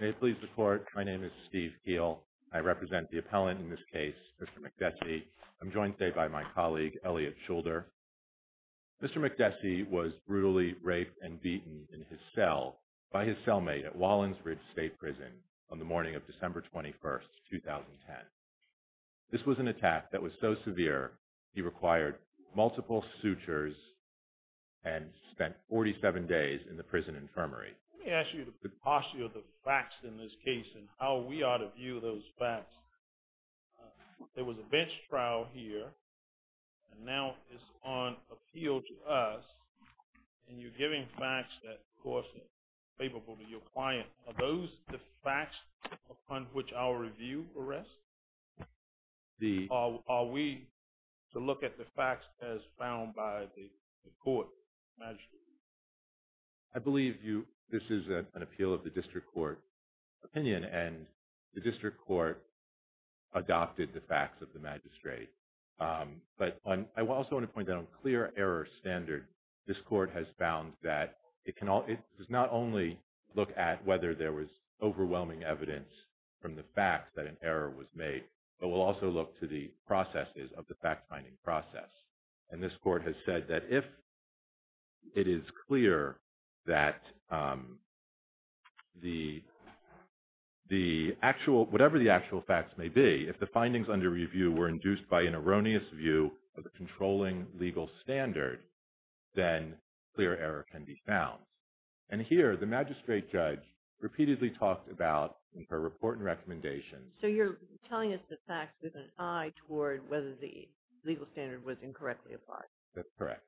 May it please the Court, my name is Steve Keel. I represent the appellant in this case, Mr. Makdessi. I'm joined today by my colleague, Elliot Schulder. Mr. Makdessi was brutally raped and beaten in his cell by his cellmate at Wallensbridge State Prison on the morning of December 21, 2010. This was an attack that was so severe he required multiple sutures and spent 47 days in the prison infirmary. Let me ask you the posse of the facts in this case and how we ought to view those facts. There was a bench trial here and now it's on appeal to us and you're giving facts that, of course, are favorable to your client. Are those the facts upon which our review rests? Are we to look at the facts as found by the Court? I believe this is an appeal of the District Court opinion and the District Court adopted the facts of the magistrate. But I also want to point out, on clear error standard, this Court has found that it does not only look at whether there was overwhelming evidence from the facts that an error was made, but will also look to the processes of the fact-finding process. And this Court has said that if it is clear that whatever the actual facts may be, if the findings under review were induced by an erroneous view of the controlling legal standard, then clear error can be found. And here the magistrate judge repeatedly talked about in her report and recommendations So you're telling us the facts with an eye toward whether the legal standard was incorrectly applied. That's correct.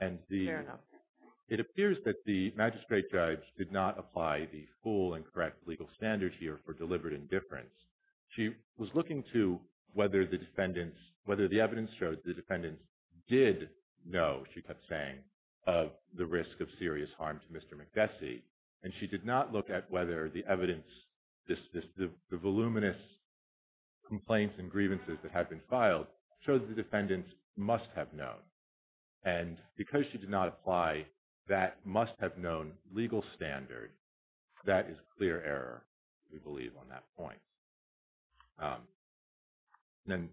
Fair enough. It appears that the magistrate judge did not apply the full and correct legal standards here for deliberate indifference. She was looking to whether the evidence showed the defendants did know, she kept saying, of the risk of serious harm to Mr. McDessie, and she did not look at whether the evidence, the voluminous complaints and grievances that have been filed show that the defendants must have known. And because she did not apply that must-have-known legal standard, that is clear error, we believe on that point. And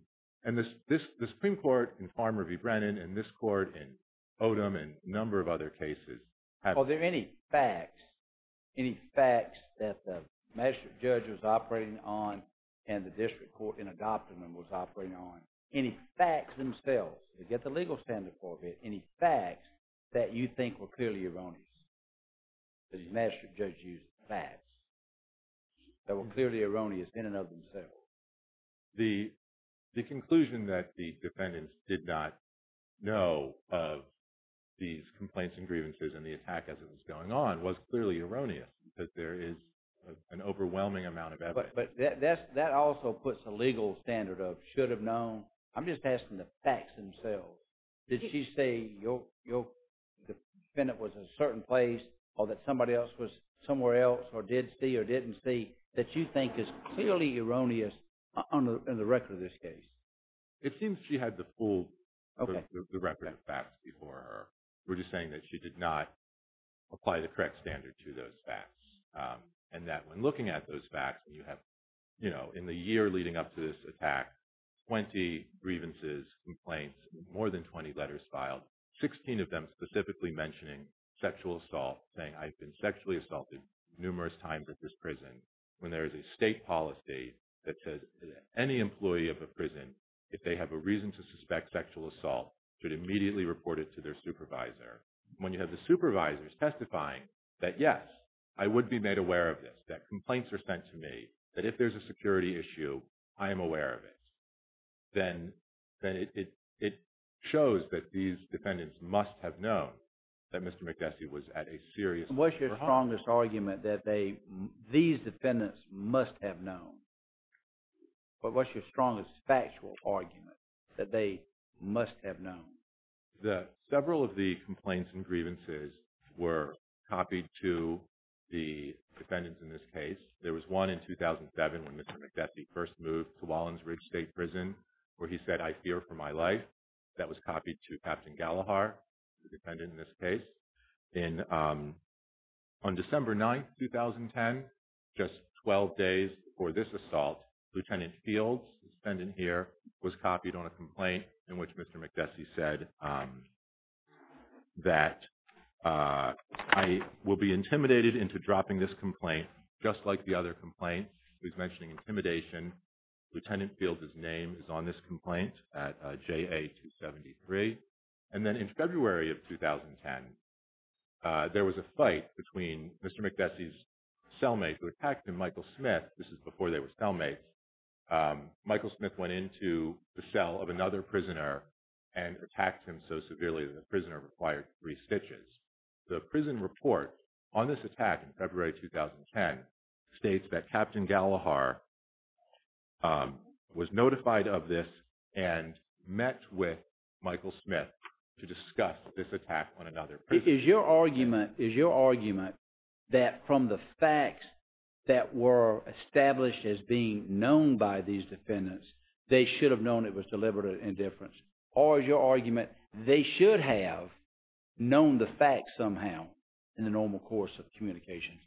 the Supreme Court in Farmer v. Brennan and this Court in Odom and a number of other cases have... Are there any facts, any facts that the magistrate judge was operating on and the district court in Odom was operating on, any facts themselves, to get the legal standard for it, any facts that you think were clearly erroneous? The magistrate judge used facts that were clearly erroneous in and of themselves. The conclusion that the defendants did not know of these complaints and grievances and the attack as it was going on was clearly erroneous because there is an overwhelming amount of evidence. But that also puts a legal standard of should-have-known. I'm just asking the facts themselves. Did she say the defendant was in a certain place or that somebody else was somewhere else or did see or didn't see that you think is clearly erroneous in the record of this case? It seems she had the full record of facts before her. We're just saying that she did not apply the correct standard to those facts and that when looking at those facts, in the year leading up to this attack, 20 grievances, complaints, more than 20 letters filed, 16 of them specifically mentioning sexual assault, saying I've been sexually assaulted numerous times at this prison. When there is a state policy that says any employee of a prison, if they have a reason to suspect sexual assault, should immediately report it to their supervisor. When you have the supervisors testifying that, yes, I would be made aware of this, that complaints are sent to me, that if there's a security issue, I am aware of it, then it shows that these defendants must have known that Mr. McDessie was at a serious— What's your strongest argument that these defendants must have known? What's your strongest factual argument that they must have known? Several of the complaints and grievances were copied to the defendants in this case. There was one in 2007 when Mr. McDessie first moved to Wallins Ridge State Prison where he said, I fear for my life. That was copied to Captain Gallagher, the defendant in this case. On December 9, 2010, just 12 days before this assault, Lieutenant Fields, the defendant here, was copied on a complaint in which Mr. McDessie said that, I will be intimidated into dropping this complaint, just like the other complaints. He was mentioning intimidation. Lieutenant Fields' name is on this complaint at JA-273. And then in February of 2010, there was a fight between Mr. McDessie's cellmate who attacked him, Michael Smith. This is before they were cellmates. Michael Smith went into the cell of another prisoner and attacked him so severely that the prisoner required three stitches. The prison report on this attack in February 2010 states that Captain Gallagher was notified of this and met with Michael Smith to discuss this attack on another prisoner. Is your argument that from the facts that were established as being known by these defendants, they should have known it was deliberate indifference? Or is your argument they should have known the facts somehow in the normal course of communications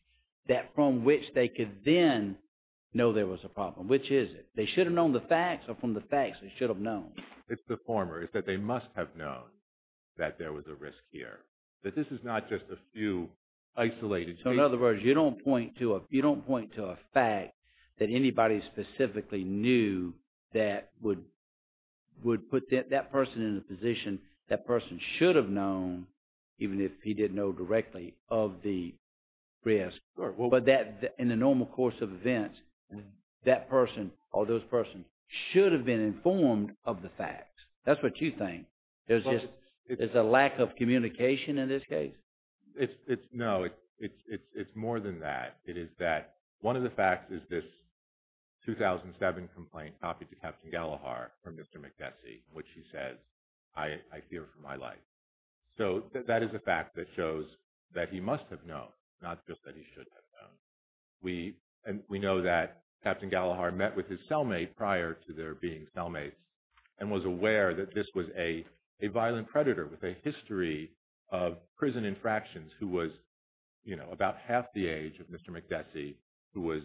that from which they could then know there was a problem? Which is it? They should have known the facts or from the facts they should have known? It's the former. It's that they must have known that there was a risk here. That this is not just a few isolated cases. So in other words, you don't point to a fact that anybody specifically knew that would put that person in a position that person should have known, even if he didn't know directly, of the risk. But in the normal course of events, that person or those persons should have been informed of the facts. That's what you think. There's a lack of communication in this case? No, it's more than that. It is that one of the facts is this 2007 complaint copied to Captain Gallagher from Mr. McNessie, in which he says, I fear for my life. So that is a fact that shows that he must have known, not just that he should have known. We know that Captain Gallagher met with his cellmate prior to there being cellmates and was aware that this was a violent predator with a history of prison infractions who was about half the age of Mr. McNessie, who was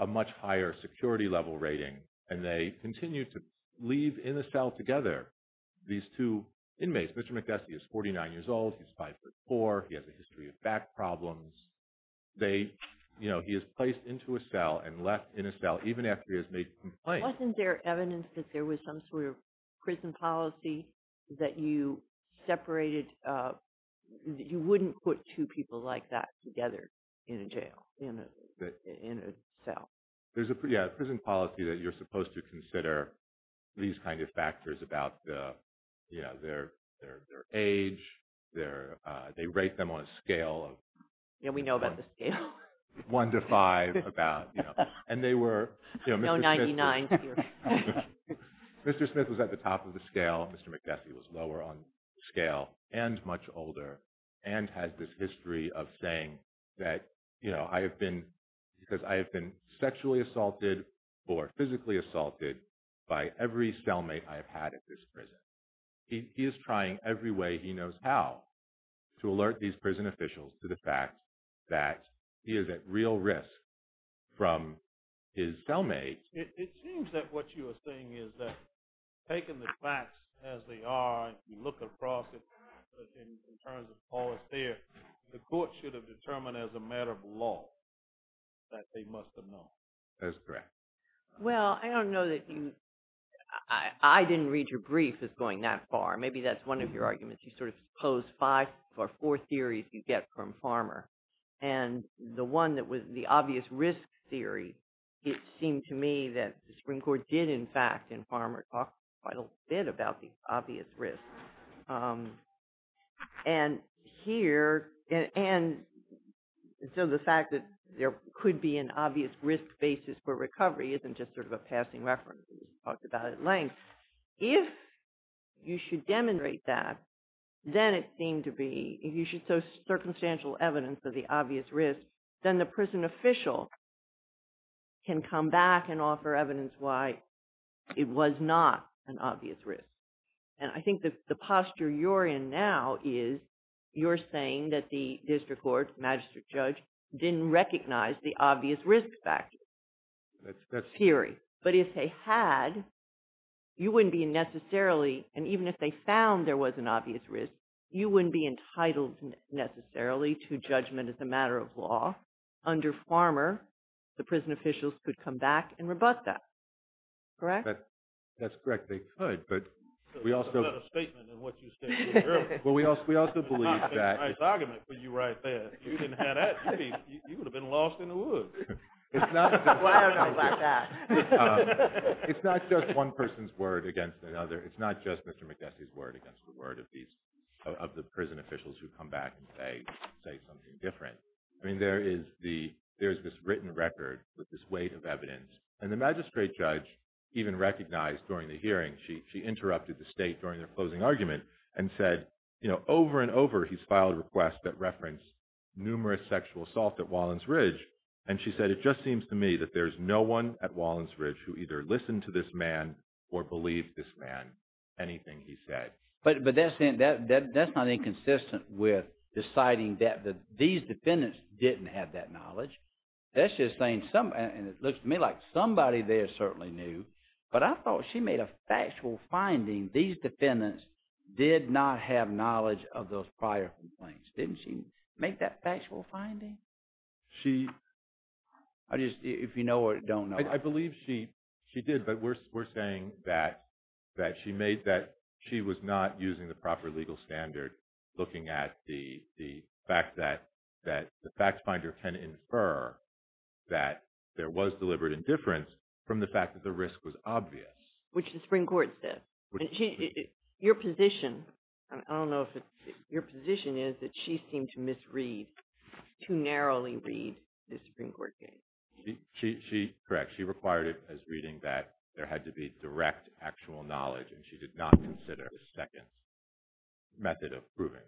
a much higher security level rating. And they continued to leave in a cell together these two inmates. Mr. McNessie is 49 years old. He's 5'4". He has a history of back problems. He is placed into a cell and left in a cell, even after he has made a complaint. Wasn't there evidence that there was some sort of prison policy that you separated? You wouldn't put two people like that together in a cell. There's a prison policy that you're supposed to consider these kind of factors about their age. They rate them on a scale of 1 to 5. No 99s here. Mr. Smith was at the top of the scale. Mr. McNessie was lower on the scale and much older and has this history of saying that, you know, I have been sexually assaulted or physically assaulted by every cellmate I have had at this prison. He is trying every way he knows how to alert these prison officials to the fact that he is at real risk from his cellmates. It seems that what you are saying is that, taking the facts as they are, if you look across it in terms of policy there, the court should have determined as a matter of law that they must have known. That's correct. Well, I don't know that you – I didn't read your brief as going that far. Maybe that's one of your arguments. You sort of pose five or four theories you get from Farmer. And the one that was the obvious risk theory, it seemed to me that the Supreme Court did in fact, in Farmer, talk quite a bit about the obvious risk. And here – and so the fact that there could be an obvious risk basis for recovery isn't just sort of a passing reference. We talked about it at length. If you should demonstrate that, then it seemed to be – if you show circumstantial evidence of the obvious risk, then the prison official can come back and offer evidence why it was not an obvious risk. And I think that the posture you're in now is you're saying that the district court, magistrate judge, didn't recognize the obvious risk factor theory. But if they had, you wouldn't be necessarily – and even if they found there was an obvious risk, you wouldn't be entitled necessarily to judgment as a matter of law. Under Farmer, the prison officials could come back and rebut that. Correct? That's correct. They could, but we also – It's not a statement in what you stated earlier. Well, we also believe that – It's not a nice argument for you right there. If you didn't have that, you would have been lost in the woods. It's not – Well, I don't know about that. It's not just one person's word against another. It's not just Mr. McNesty's word against the word of these – of the prison officials who come back and say something different. I mean, there is the – there is this written record with this weight of evidence. And the magistrate judge even recognized during the hearing – she interrupted the state during their closing argument and said, you know, over and over he's filed requests that reference numerous sexual assault at Wallens Ridge. And she said, it just seems to me that there's no one at Wallens Ridge who either listened to this man or believed this man anything he said. But that's not inconsistent with deciding that these defendants didn't have that knowledge. That's just saying some – and it looks to me like somebody there certainly knew. But I thought she made a factual finding these defendants did not have knowledge of those prior complaints. Didn't she make that factual finding? She – I just – if you know or don't know. I believe she did. But we're saying that she made that she was not using the proper legal standard looking at the fact that the fact finder can infer that there was deliberate indifference from the fact that the risk was obvious. Which the Supreme Court said. Your position – I don't know if it's – your position is that she seemed to misread – to narrowly read the Supreme Court case. She – correct. She required it as reading that there had to be direct actual knowledge. And she did not consider a second method of proving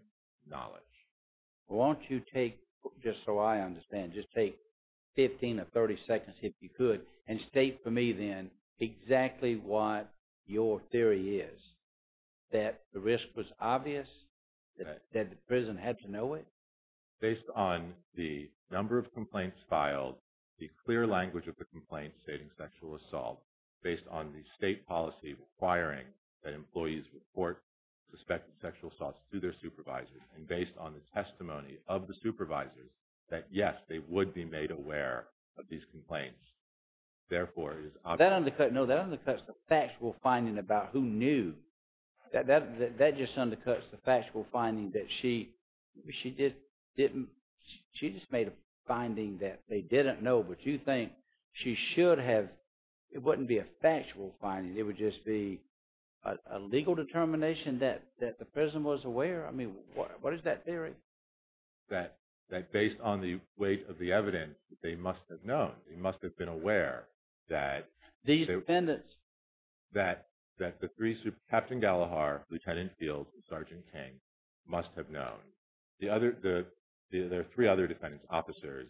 knowledge. Well, won't you take – just so I understand. Just take 15 or 30 seconds if you could and state for me then exactly what your theory is. That the risk was obvious? That the prison had to know it? Based on the number of complaints filed, the clear language of the complaints stating sexual assault. Based on the state policy requiring that employees report suspected sexual assaults to their supervisors. And based on the testimony of the supervisors that, yes, they would be made aware of these complaints. Therefore, it is obvious. That undercuts – no, that undercuts the factual finding about who knew. That just undercuts the factual finding that she didn't – she just made a finding that they didn't know. But you think she should have – it wouldn't be a factual finding. It would just be a legal determination that the prison was aware? I mean, what is that theory? That based on the weight of the evidence, they must have known. They must have been aware that – These defendants. That the three – Captain Gallagher, Lieutenant Fields, and Sergeant King must have known. The other – there are three other defendants, officers,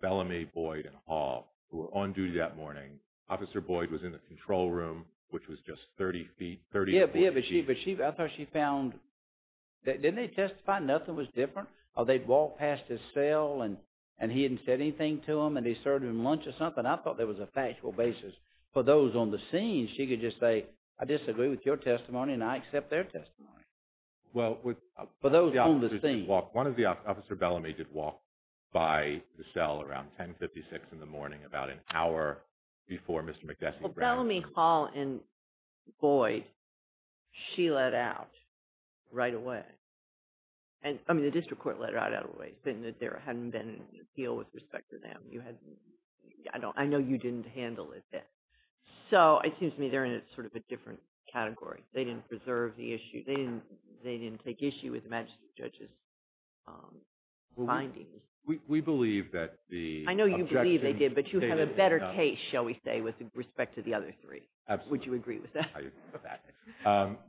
Bellamy, Boyd, and Hall, who were on duty that morning. Officer Boyd was in the control room, which was just 30 feet – 30 or 40 feet. Yeah, but she – I thought she found – didn't they testify nothing was different? Or they'd walked past his cell and he hadn't said anything to them and they served him lunch or something. I thought there was a factual basis. For those on the scene, she could just say, I disagree with your testimony and I accept their testimony. Well, with – For those on the scene. One of the – Officer Bellamy did walk by the cell around 10.56 in the morning, about an hour before Mr. McDessie's arrest. Well, Bellamy, Hall, and Boyd, she let out right away. I mean, the district court let her out right away, saying that there hadn't been a deal with respect to them. I know you didn't handle it then. So, it seems to me they're in sort of a different category. They didn't preserve the issue. They didn't take issue with the magistrate judge's findings. We believe that the objection – I know you believe they did, but you have a better case, shall we say, with respect to the other three. Absolutely. Would you agree with that? I agree with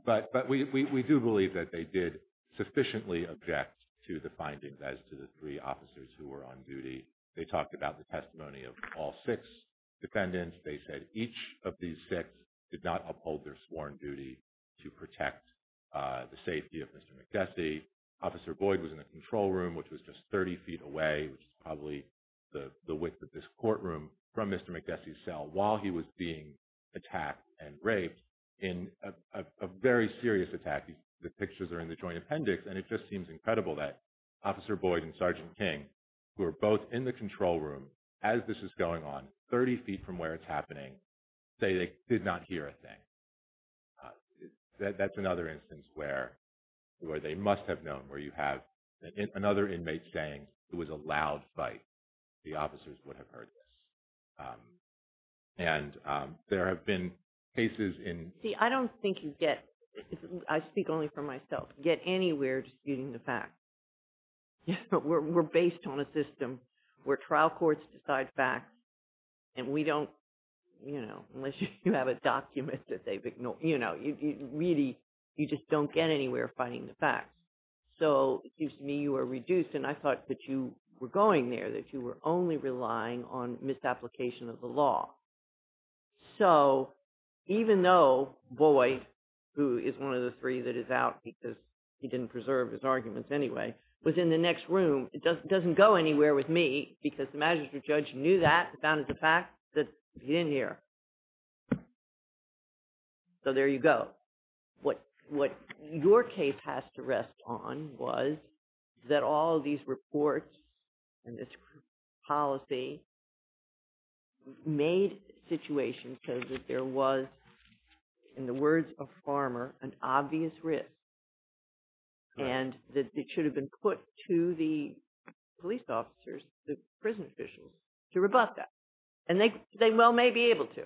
that. But we do believe that they did sufficiently object to the findings as to the three officers who were on duty. They talked about the testimony of all six defendants. They said each of these six did not uphold their sworn duty to protect the safety of Mr. McDessie. Officer Boyd was in the control room, which was just 30 feet away, which is probably the width of this courtroom, from Mr. McDessie's cell while he was being attacked and raped in a very serious attack. The pictures are in the joint appendix. And it just seems incredible that Officer Boyd and Sergeant King, who are both in the control room as this is going on, 30 feet from where it's happening, say they did not hear a thing. That's another instance where they must have known, where you have another inmate saying it was a loud fight. The officers would have heard this. And there have been cases in – See, I don't think you get – I speak only for myself – get anywhere disputing the facts. We're based on a system where trial courts decide facts, and we don't – unless you have a document that they've ignored. Really, you just don't get anywhere fighting the facts. So it seems to me you are reduced, and I thought that you were going there, that you were only relying on misapplication of the law. So even though Boyd, who is one of the three that is out because he didn't preserve his arguments anyway, was in the next room, it doesn't go anywhere with me because the magistrate judge knew that, found it a fact that he didn't hear. So there you go. What your case has to rest on was that all these reports and this policy made situations so that there was, in the words of Farmer, an obvious risk. And that it should have been put to the police officers, the prison officials, to rebut that. And they well may be able to.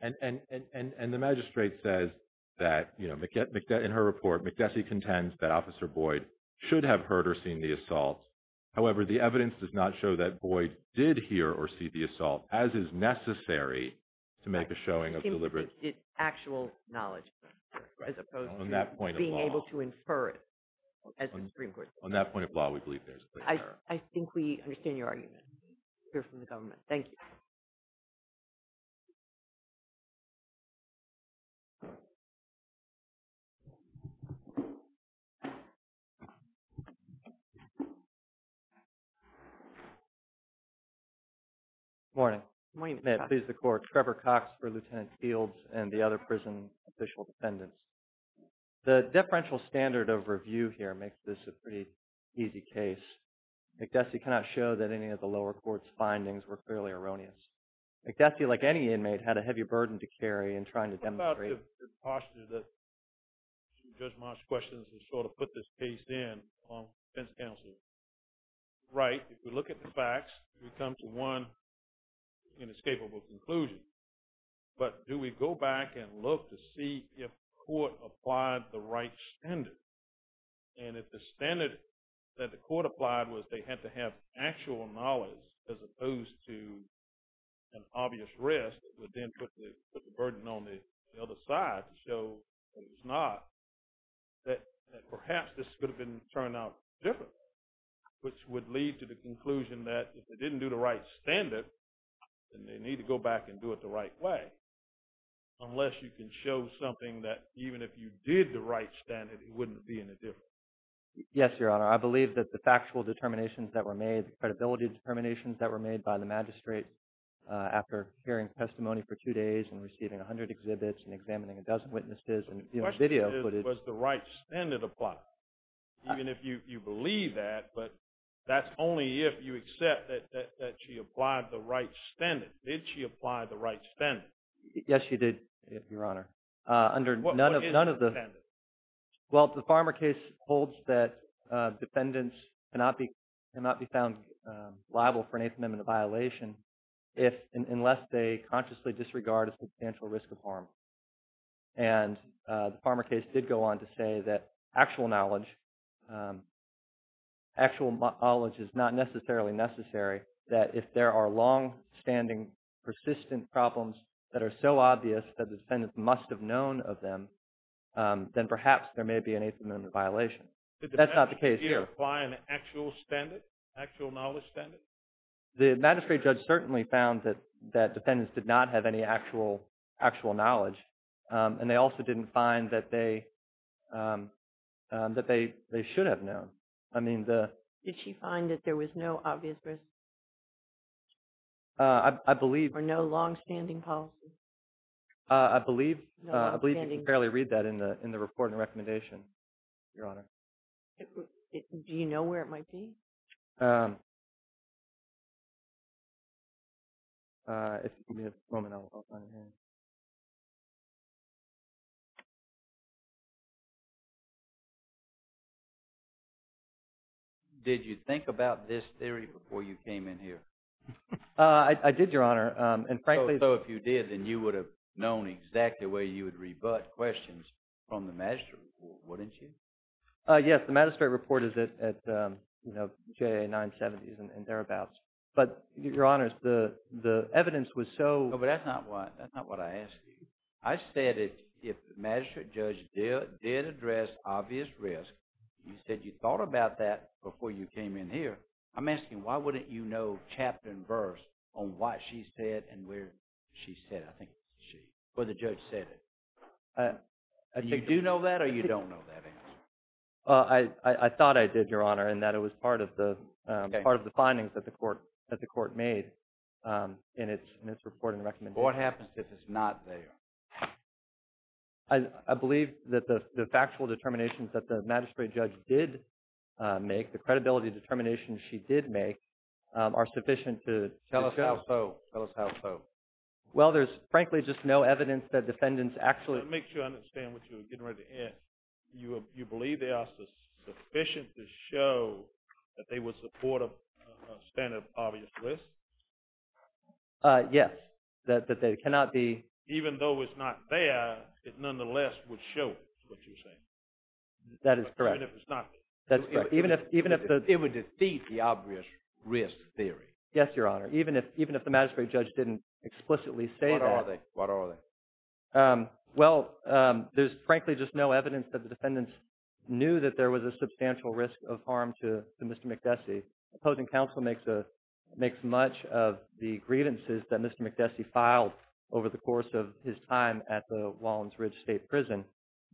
And the magistrate says that, in her report, McDessie contends that Officer Boyd should have heard or seen the assault. However, the evidence does not show that Boyd did hear or see the assault, as is necessary to make a showing of deliberate – It's actual knowledge, as opposed to being able to infer it. On that point of law, we believe there is a clear error. I think we understand your argument. We hear from the government. Thank you. Good morning. Good morning. May it please the Court. Trevor Cox for Lieutenant Fields and the other prison official defendants. The differential standard of review here makes this a pretty easy case. McDessie cannot show that any of the lower court's findings were clearly erroneous. McDessie, like any inmate, had a heavy burden to carry in trying to demonstrate – What about the posture that Judge Marsh questions and sort of put this case in on defense counsel? Right, if we look at the facts, we come to one inescapable conclusion. But do we go back and look to see if the court applied the right standard? And if the standard that the court applied was they had to have actual knowledge, as opposed to an obvious risk, it would then put the burden on the other side to show that it was not, that perhaps this could have been turned out differently, which would lead to the conclusion that if they didn't do the right standard, then they need to go back and do it the right way, unless you can show something that even if you did the right standard, it wouldn't be any different. Yes, Your Honor. I believe that the factual determinations that were made, the credibility determinations that were made by the magistrate after hearing testimony for two days and receiving 100 exhibits and examining a dozen witnesses and viewing video footage – The question is, does the right standard apply? Even if you believe that, but that's only if you accept that she applied the right standard. Did she apply the right standard? Yes, she did, Your Honor. What is the defendant? Well, the Farmer case holds that defendants cannot be found liable for an 8th Amendment violation unless they consciously disregard a substantial risk of harm. And the Farmer case did go on to say that actual knowledge is not necessarily necessary, that if there are long-standing persistent problems that are so obvious that the defendant must have known of them, then perhaps there may be an 8th Amendment violation. That's not the case here. Did the defendant apply an actual standard, actual knowledge standard? The magistrate judge certainly found that defendants did not have any actual knowledge, and they also didn't find that they should have known. Did she find that there was no obvious risk? I believe – Or no long-standing policy? I believe you can fairly read that in the report and recommendation, Your Honor. Do you know where it might be? If you give me a moment, I'll find it here. Did you think about this theory before you came in here? I did, Your Honor, and frankly – So if you did, then you would have known exactly where you would rebut questions from the magistrate report, wouldn't you? Yes, the magistrate report is at J.A. 970s and thereabouts. But, Your Honor, the evidence was so – No, but that's not what I asked you. I said if the magistrate judge did address obvious risk, you said you thought about that before you came in here, I'm asking why wouldn't you know chapter and verse on what she said and where she said, I think, she, or the judge said it. Do you know that or you don't know that answer? I thought I did, Your Honor, in that it was part of the findings that the court made in its report and recommendation. What happens if it's not there? I believe that the factual determinations that the magistrate judge did make, the credibility determinations she did make, are sufficient to – Tell us how so. Well, there's frankly just no evidence that defendants actually – Let me make sure I understand what you're getting ready to ask. You believe they are sufficient to show that they would support a standard of obvious risk? Yes, that they cannot be – Even though it's not there, it nonetheless would show what you're saying. That is correct. Even if it's not there. That's correct. Even if – It would defeat the obvious risk theory. Yes, Your Honor. Even if the magistrate judge didn't explicitly say that – What are they? Well, there's frankly just no evidence that the defendants knew that there was a substantial risk of harm to Mr. McDessie. The opposing counsel makes much of the grievances that Mr. McDessie filed over the course of his time at the Wallins Ridge State Prison.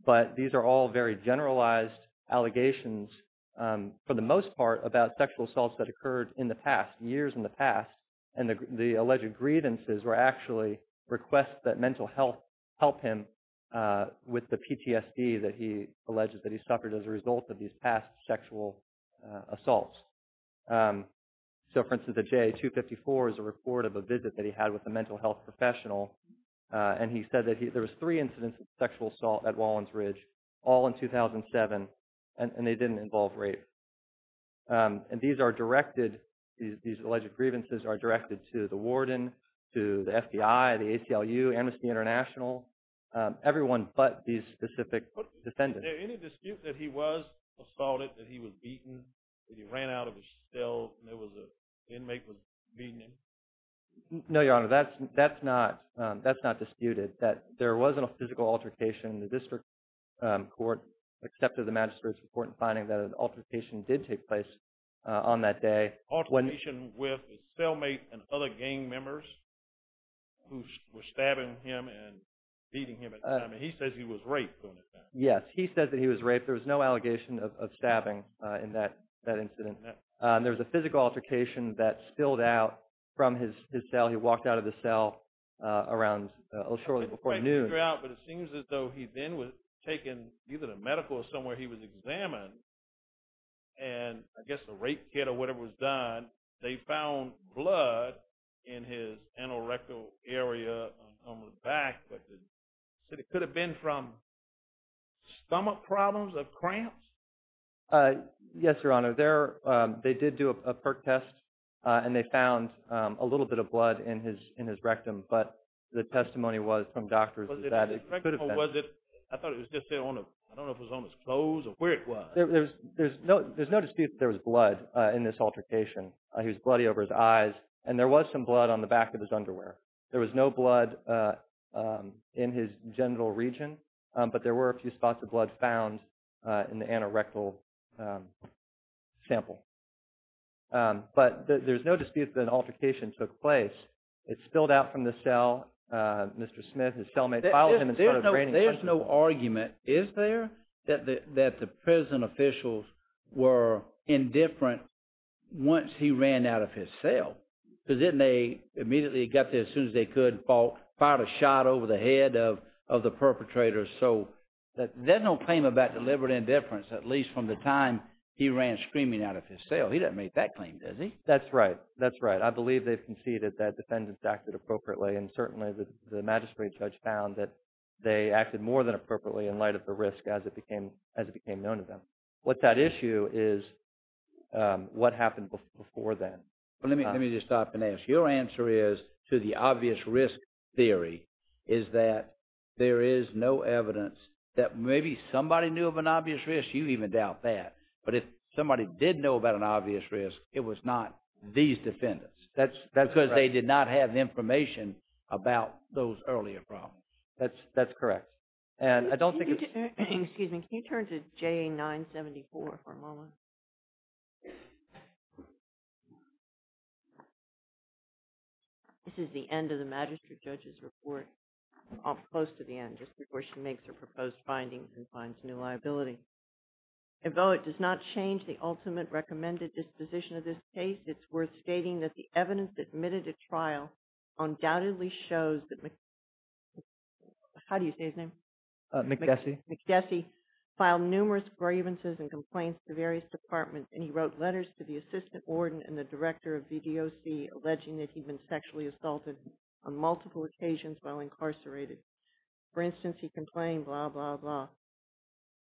But these are all very generalized allegations, for the most part, about sexual assaults that occurred in the past, years in the past. And the alleged grievances were actually requests that mental health help him with the PTSD that he alleged that he suffered as a result of these past sexual assaults. So, for instance, the JA-254 is a report of a visit that he had with a mental health professional. And he said that there was three incidents of sexual assault at Wallins Ridge, all in 2007, and they didn't involve rape. And these are directed – these alleged grievances are directed to the warden, to the FBI, the ACLU, Amnesty International, everyone but these specific defendants. Is there any dispute that he was assaulted, that he was beaten, that he ran out of his cell and there was a – an inmate was beating him? No, Your Honor, that's not disputed, that there wasn't a physical altercation. The district court accepted the magistrate's report and finding that an altercation did take place on that day. Altercation with his cellmate and other gang members who were stabbing him and beating him at the time? I mean, he says he was raped during that time. Yes, he says that he was raped. There was no allegation of stabbing in that incident. And there was a physical altercation that spilled out from his cell. He walked out of the cell around – shortly before noon. I can't figure out, but it seems as though he then was taken either to medical or somewhere he was examined, and I guess a rape kit or whatever was done. They found blood in his anorectal area on the back, but it could have been from stomach problems or cramps? Yes, Your Honor. They did do a PERC test, and they found a little bit of blood in his rectum, but the testimony was from doctors that it could have been. Was it – I thought it was just there on a – I don't know if it was on his clothes or where it was. There's no dispute that there was blood in this altercation. He was bloody over his eyes, and there was some blood on the back of his underwear. There was no blood in his genital region, but there were a few spots of blood found in the anorectal sample. But there's no dispute that an altercation took place. It spilled out from the cell. Mr. Smith, his cellmate, followed him and started draining – There's no argument, is there, that the prison officials were indifferent once he ran out of his cell? Because didn't they immediately get there as soon as they could, fired a shot over the head of the perpetrator? So there's no claim about deliberate indifference, at least from the time he ran screaming out of his cell. He doesn't make that claim, does he? That's right. That's right. I believe they've conceded that defendants acted appropriately, and certainly the magistrate judge found that they acted more than appropriately in light of the risk as it became known to them. What's at issue is what happened before then. Let me just stop and ask. Your answer is, to the obvious risk theory, is that there is no evidence that maybe somebody knew of an obvious risk. You even doubt that. But if somebody did know about an obvious risk, it was not these defendants. That's because they did not have information about those earlier problems. That's correct. Excuse me. Can you turn to JA 974 for a moment? This is the end of the magistrate judge's report, close to the end, just before she makes her proposed findings and finds new liability. Although it does not change the ultimate recommended disposition of this case, it's worth stating that the evidence admitted at trial undoubtedly shows that McGessy filed numerous grievances and complaints to various departments, and he wrote letters to the assistant warden and the director of VDOC alleging that he'd been sexually assaulted on multiple occasions while incarcerated. For instance, he complained, blah, blah, blah.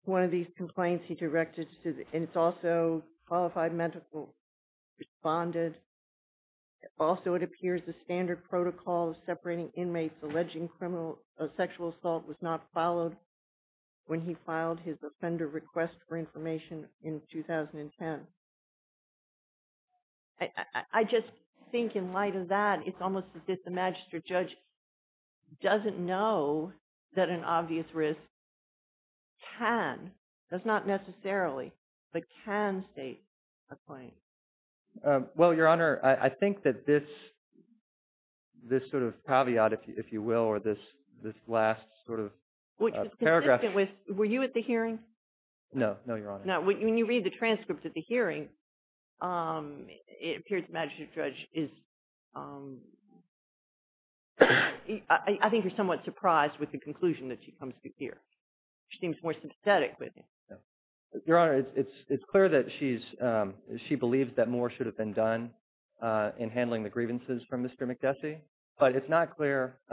One of these complaints he directed, and it's also qualified medical, responded. Also, it appears the standard protocol of separating inmates alleging sexual assault was not followed when he filed his offender request for information in 2010. I just think in light of that, it's almost as if the magistrate judge doesn't know that an obvious risk can, does not necessarily, but can state a claim. Well, Your Honor, I think that this sort of caveat, if you will, or this last sort of paragraph… Were you at the hearing? No, no, Your Honor. When you read the transcript at the hearing, it appears the magistrate judge is – I think you're somewhat surprised with the conclusion that she comes to hear. She seems more sympathetic with it. Your Honor, it's clear that she believes that more should have been done in handling the grievances from Mr. McGessy. But it's not clear –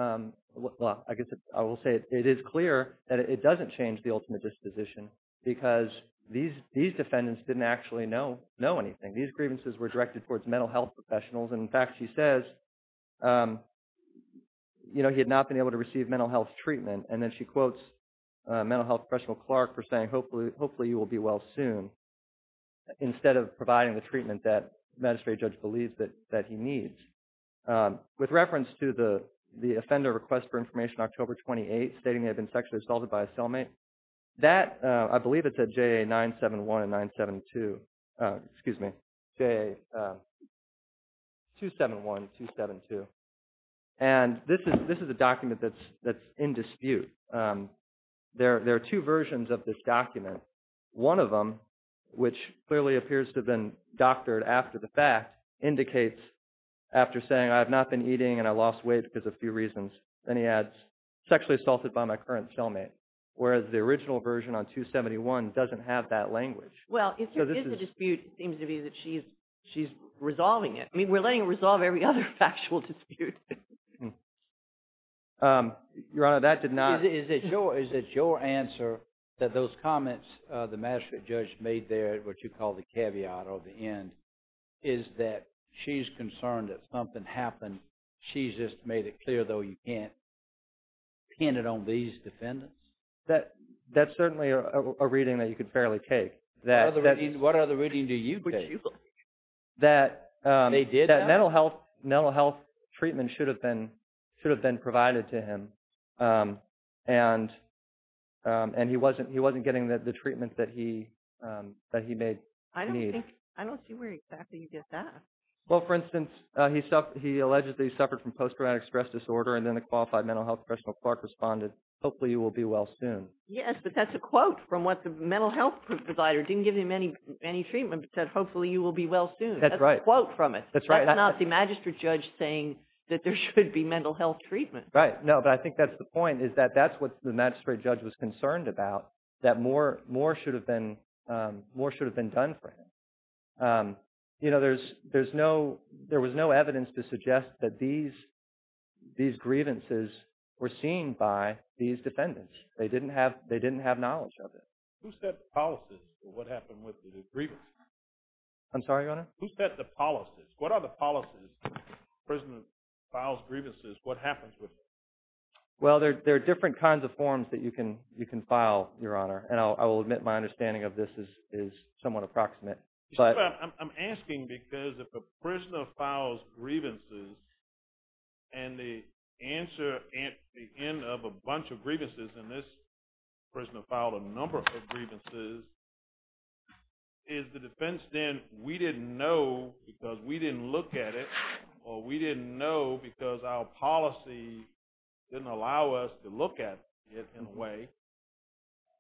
well, I guess I will say it is clear that it doesn't change the ultimate disposition because these defendants didn't actually know anything. These grievances were directed towards mental health professionals. In fact, she says he had not been able to receive mental health treatment. And then she quotes mental health professional Clark for saying, hopefully, you will be well soon, instead of providing the treatment that the magistrate judge believes that he needs. With reference to the offender request for information October 28 stating they had been sexually assaulted by a cellmate, that – I believe it's at JA 971 and 972. Excuse me, JA 271, 272. And this is a document that's in dispute. One of them, which clearly appears to have been doctored after the fact, indicates after saying I have not been eating and I lost weight because of a few reasons. Then he adds sexually assaulted by my current cellmate, whereas the original version on 271 doesn't have that language. Well, if there is a dispute, it seems to be that she's resolving it. I mean we're letting her resolve every other factual dispute. Your Honor, that did not – Is it your answer that those comments the magistrate judge made there, what you call the caveat or the end, is that she's concerned that something happened. She's just made it clear, though, you can't pin it on these defendants? That's certainly a reading that you could fairly take. What other reading do you take? That mental health treatment should have been provided to him, and he wasn't getting the treatment that he made need. I don't see where exactly you get that. Well, for instance, he allegedly suffered from post-traumatic stress disorder, and then the qualified mental health professional, Clark, responded, hopefully you will be well soon. Yes, but that's a quote from what the mental health provider didn't give him any treatment, but said hopefully you will be well soon. That's right. That's a quote from it. That's right. That's not the magistrate judge saying that there should be mental health treatment. Right. No, but I think that's the point, is that that's what the magistrate judge was concerned about, that more should have been done for him. There was no evidence to suggest that these grievances were seen by these defendants. They didn't have knowledge of it. Who set the policies for what happened with the grievances? I'm sorry, Your Honor? Who set the policies? What are the policies if a prisoner files grievances? What happens with them? Well, there are different kinds of forms that you can file, Your Honor, and I will admit my understanding of this is somewhat approximate. I'm asking because if a prisoner files grievances, and the answer at the end of a bunch of grievances, and this prisoner filed a number of grievances, is the defense then, we didn't know because we didn't look at it, or we didn't know because our policy didn't allow us to look at it in a way,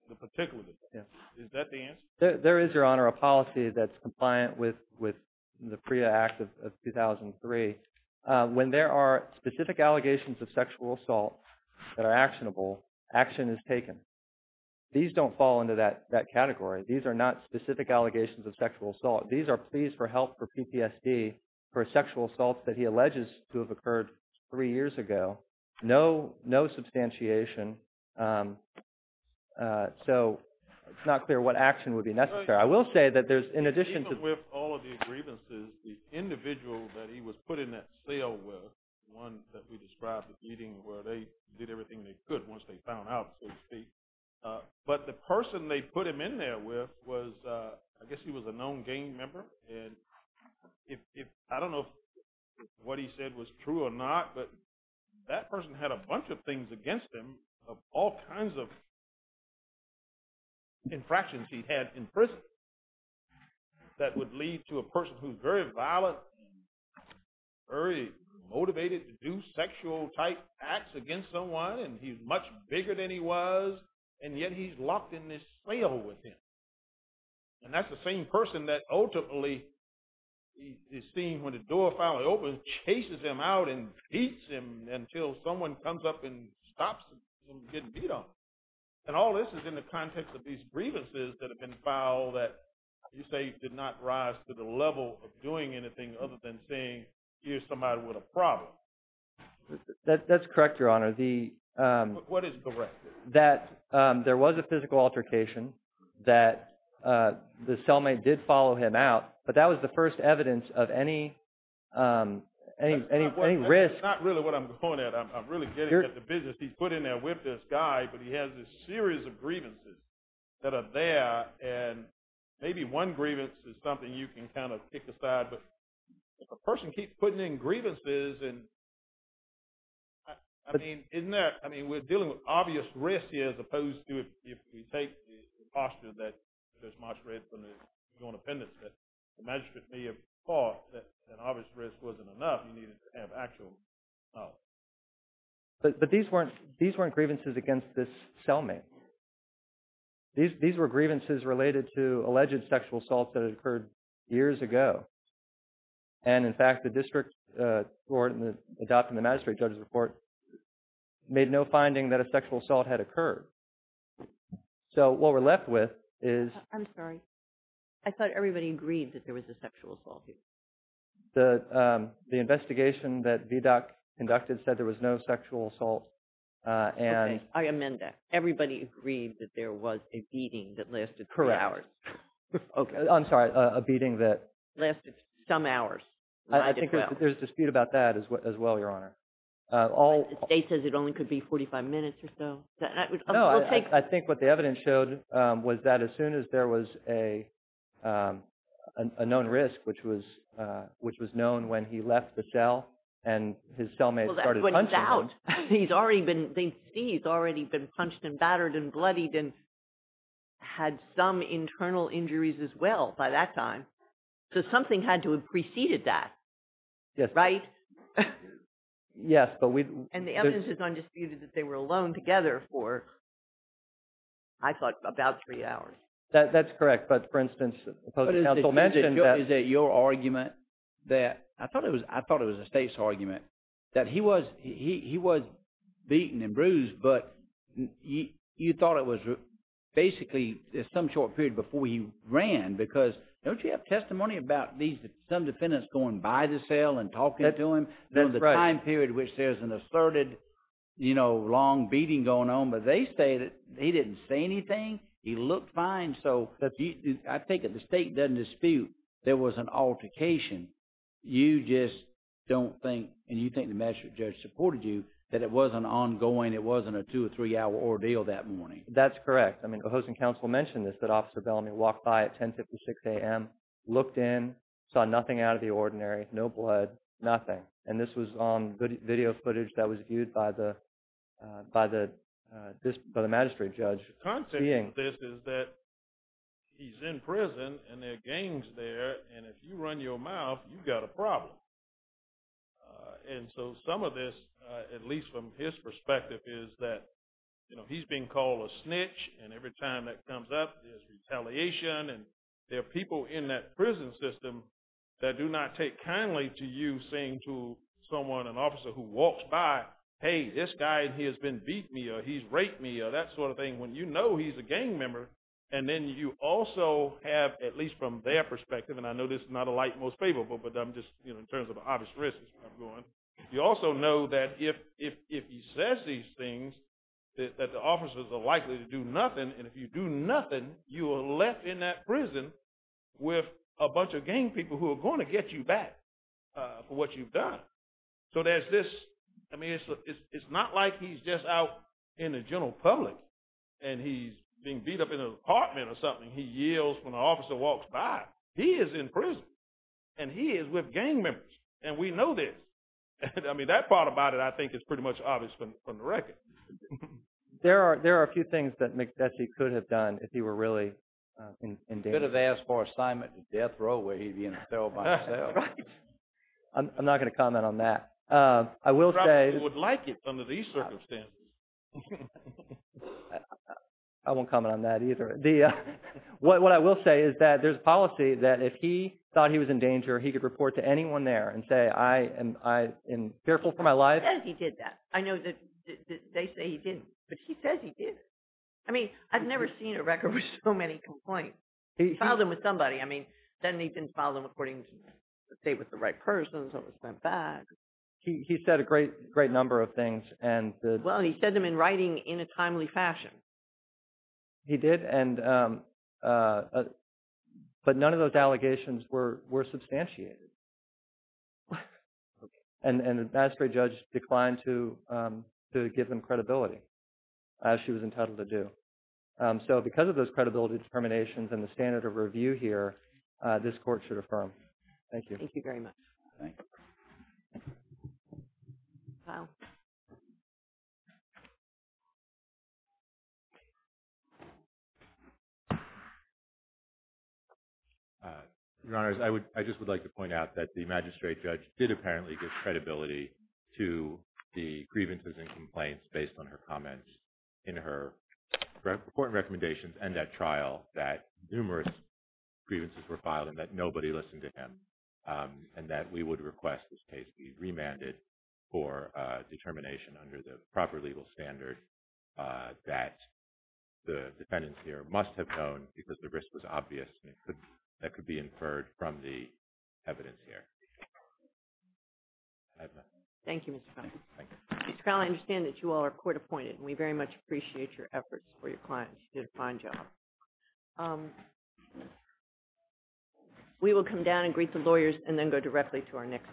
the particular defense. Is that the answer? There is, Your Honor, a policy that's compliant with the PREA Act of 2003. When there are specific allegations of sexual assault that are actionable, action is taken. These don't fall into that category. These are not specific allegations of sexual assault. These are pleas for help for PTSD for sexual assault that he alleges to have occurred three years ago. No substantiation. So, it's not clear what action would be necessary. I will say that there's, in addition to… Even with all of the grievances, the individual that he was put in that cell with, the one that we described as meeting where they did everything they could once they found out, so to speak. But the person they put him in there with was, I guess he was a known gang member, and I don't know if what he said was true or not, but that person had a bunch of things against him of all kinds of infractions he had in prison that would lead to a person who's very violent, very motivated to do sexual type acts against someone, and he's much bigger than he was. And yet he's locked in this cell with him. And that's the same person that ultimately is seen when the door finally opens, chases him out and beats him until someone comes up and stops him from getting beat on. And all this is in the context of these grievances that have been filed that you say did not rise to the level of doing anything other than saying, here's somebody with a problem. That's correct, Your Honor. What is correct? That there was a physical altercation, that the cellmate did follow him out, but that was the first evidence of any risk. That's not really what I'm going at. I'm really getting at the business he's put in there with this guy, but he has this series of grievances that are there, and maybe one grievance is something you can kind of kick aside. But if a person keeps putting in grievances, and, I mean, isn't there, I mean, we're dealing with obvious risks here as opposed to if we take the posture that there's much risk on the pendants that the magistrate may have thought that an obvious risk wasn't enough, you needed to have actual knowledge. But these weren't grievances against this cellmate. These were grievances related to alleged sexual assaults that had occurred years ago. And, in fact, the district court in adopting the magistrate judge's report made no finding that a sexual assault had occurred. So what we're left with is – I'm sorry. I thought everybody agreed that there was a sexual assault here. The investigation that VDOC conducted said there was no sexual assault. Okay. I amend that. Everybody agreed that there was a beating that lasted several hours. Correct. Okay. I'm sorry. A beating that – Lasted some hours. I think there's a dispute about that as well, Your Honor. The state says it only could be 45 minutes or so. No, I think what the evidence showed was that as soon as there was a known risk, which was known when he left the cell and his cellmate started punching him – I think he's already been punched and battered and bloodied and had some internal injuries as well by that time. So something had to have preceded that, right? Yes, but we – And the evidence is undisputed that they were alone together for, I thought, about three hours. That's correct. But, for instance, the opposing counsel mentioned that – Is it your argument that – I thought it was the state's argument that he was beaten and bruised, but you thought it was basically some short period before he ran because don't you have testimony about some defendants going by the cell and talking to him? That's right. During the time period in which there's an asserted long beating going on, but they say that he didn't say anything. He looked fine. So I think if the state doesn't dispute there was an altercation, you just don't think, and you think the magistrate judge supported you, that it wasn't ongoing, it wasn't a two- or three-hour ordeal that morning. That's correct. I mean, the opposing counsel mentioned this, that Officer Bellamy walked by at 10.56 a.m., looked in, saw nothing out of the ordinary, no blood, nothing. And this was on video footage that was viewed by the magistrate judge. The concept of this is that he's in prison and there are gangs there, and if you run your mouth, you've got a problem. And so some of this, at least from his perspective, is that he's being called a snitch, and every time that comes up there's retaliation, and there are people in that prison system that do not take kindly to you saying to someone, an officer who walks by, hey, this guy, he has been beat me, or he's raped me, or that sort of thing, when you know he's a gang member. And then you also have, at least from their perspective, and I know this is not a light most favorable, but I'm just, you know, in terms of an obvious risk is where I'm going. You also know that if he says these things, that the officers are likely to do nothing, and if you do nothing, you are left in that prison with a bunch of gang people who are going to get you back for what you've done. So there's this, I mean, it's not like he's just out in the general public, and he's being beat up in an apartment or something. He yells when an officer walks by. He is in prison, and he is with gang members, and we know this. I mean, that part about it I think is pretty much obvious from the record. There are a few things that he could have done if he were really in danger. He could have asked for assignment to death row where he'd be in cell by cell. I'm not going to comment on that. He probably would like it under these circumstances. I won't comment on that either. What I will say is that there's policy that if he thought he was in danger, he could report to anyone there and say, I am fearful for my life. He says he did that. I know that they say he didn't, but he says he did. I mean, I've never seen a record with so many complaints. He filed them with somebody. I mean, then he didn't file them according to the state with the right person, so it was sent back. He said a great number of things. Well, he said them in writing in a timely fashion. He did, but none of those allegations were substantiated, and the magistrate judge declined to give them credibility, as she was entitled to do. So because of those credibility determinations and the standard of review here, this court should affirm. Thank you. Thank you very much. Thank you. Your Honors, I just would like to point out that the magistrate judge did apparently give credibility to the grievances and complaints based on her comments in her court recommendations that numerous grievances were filed and that nobody listened to him, and that we would request this case be remanded for determination under the proper legal standard that the defendants here must have known because the risk was obvious that could be inferred from the evidence here. Thank you, Mr. Connelly. Mr. Connelly, I understand that you all are court appointed, and we very much appreciate your efforts for your clients. You did a fine job. We will come down and greet the lawyers and then go directly to our next case.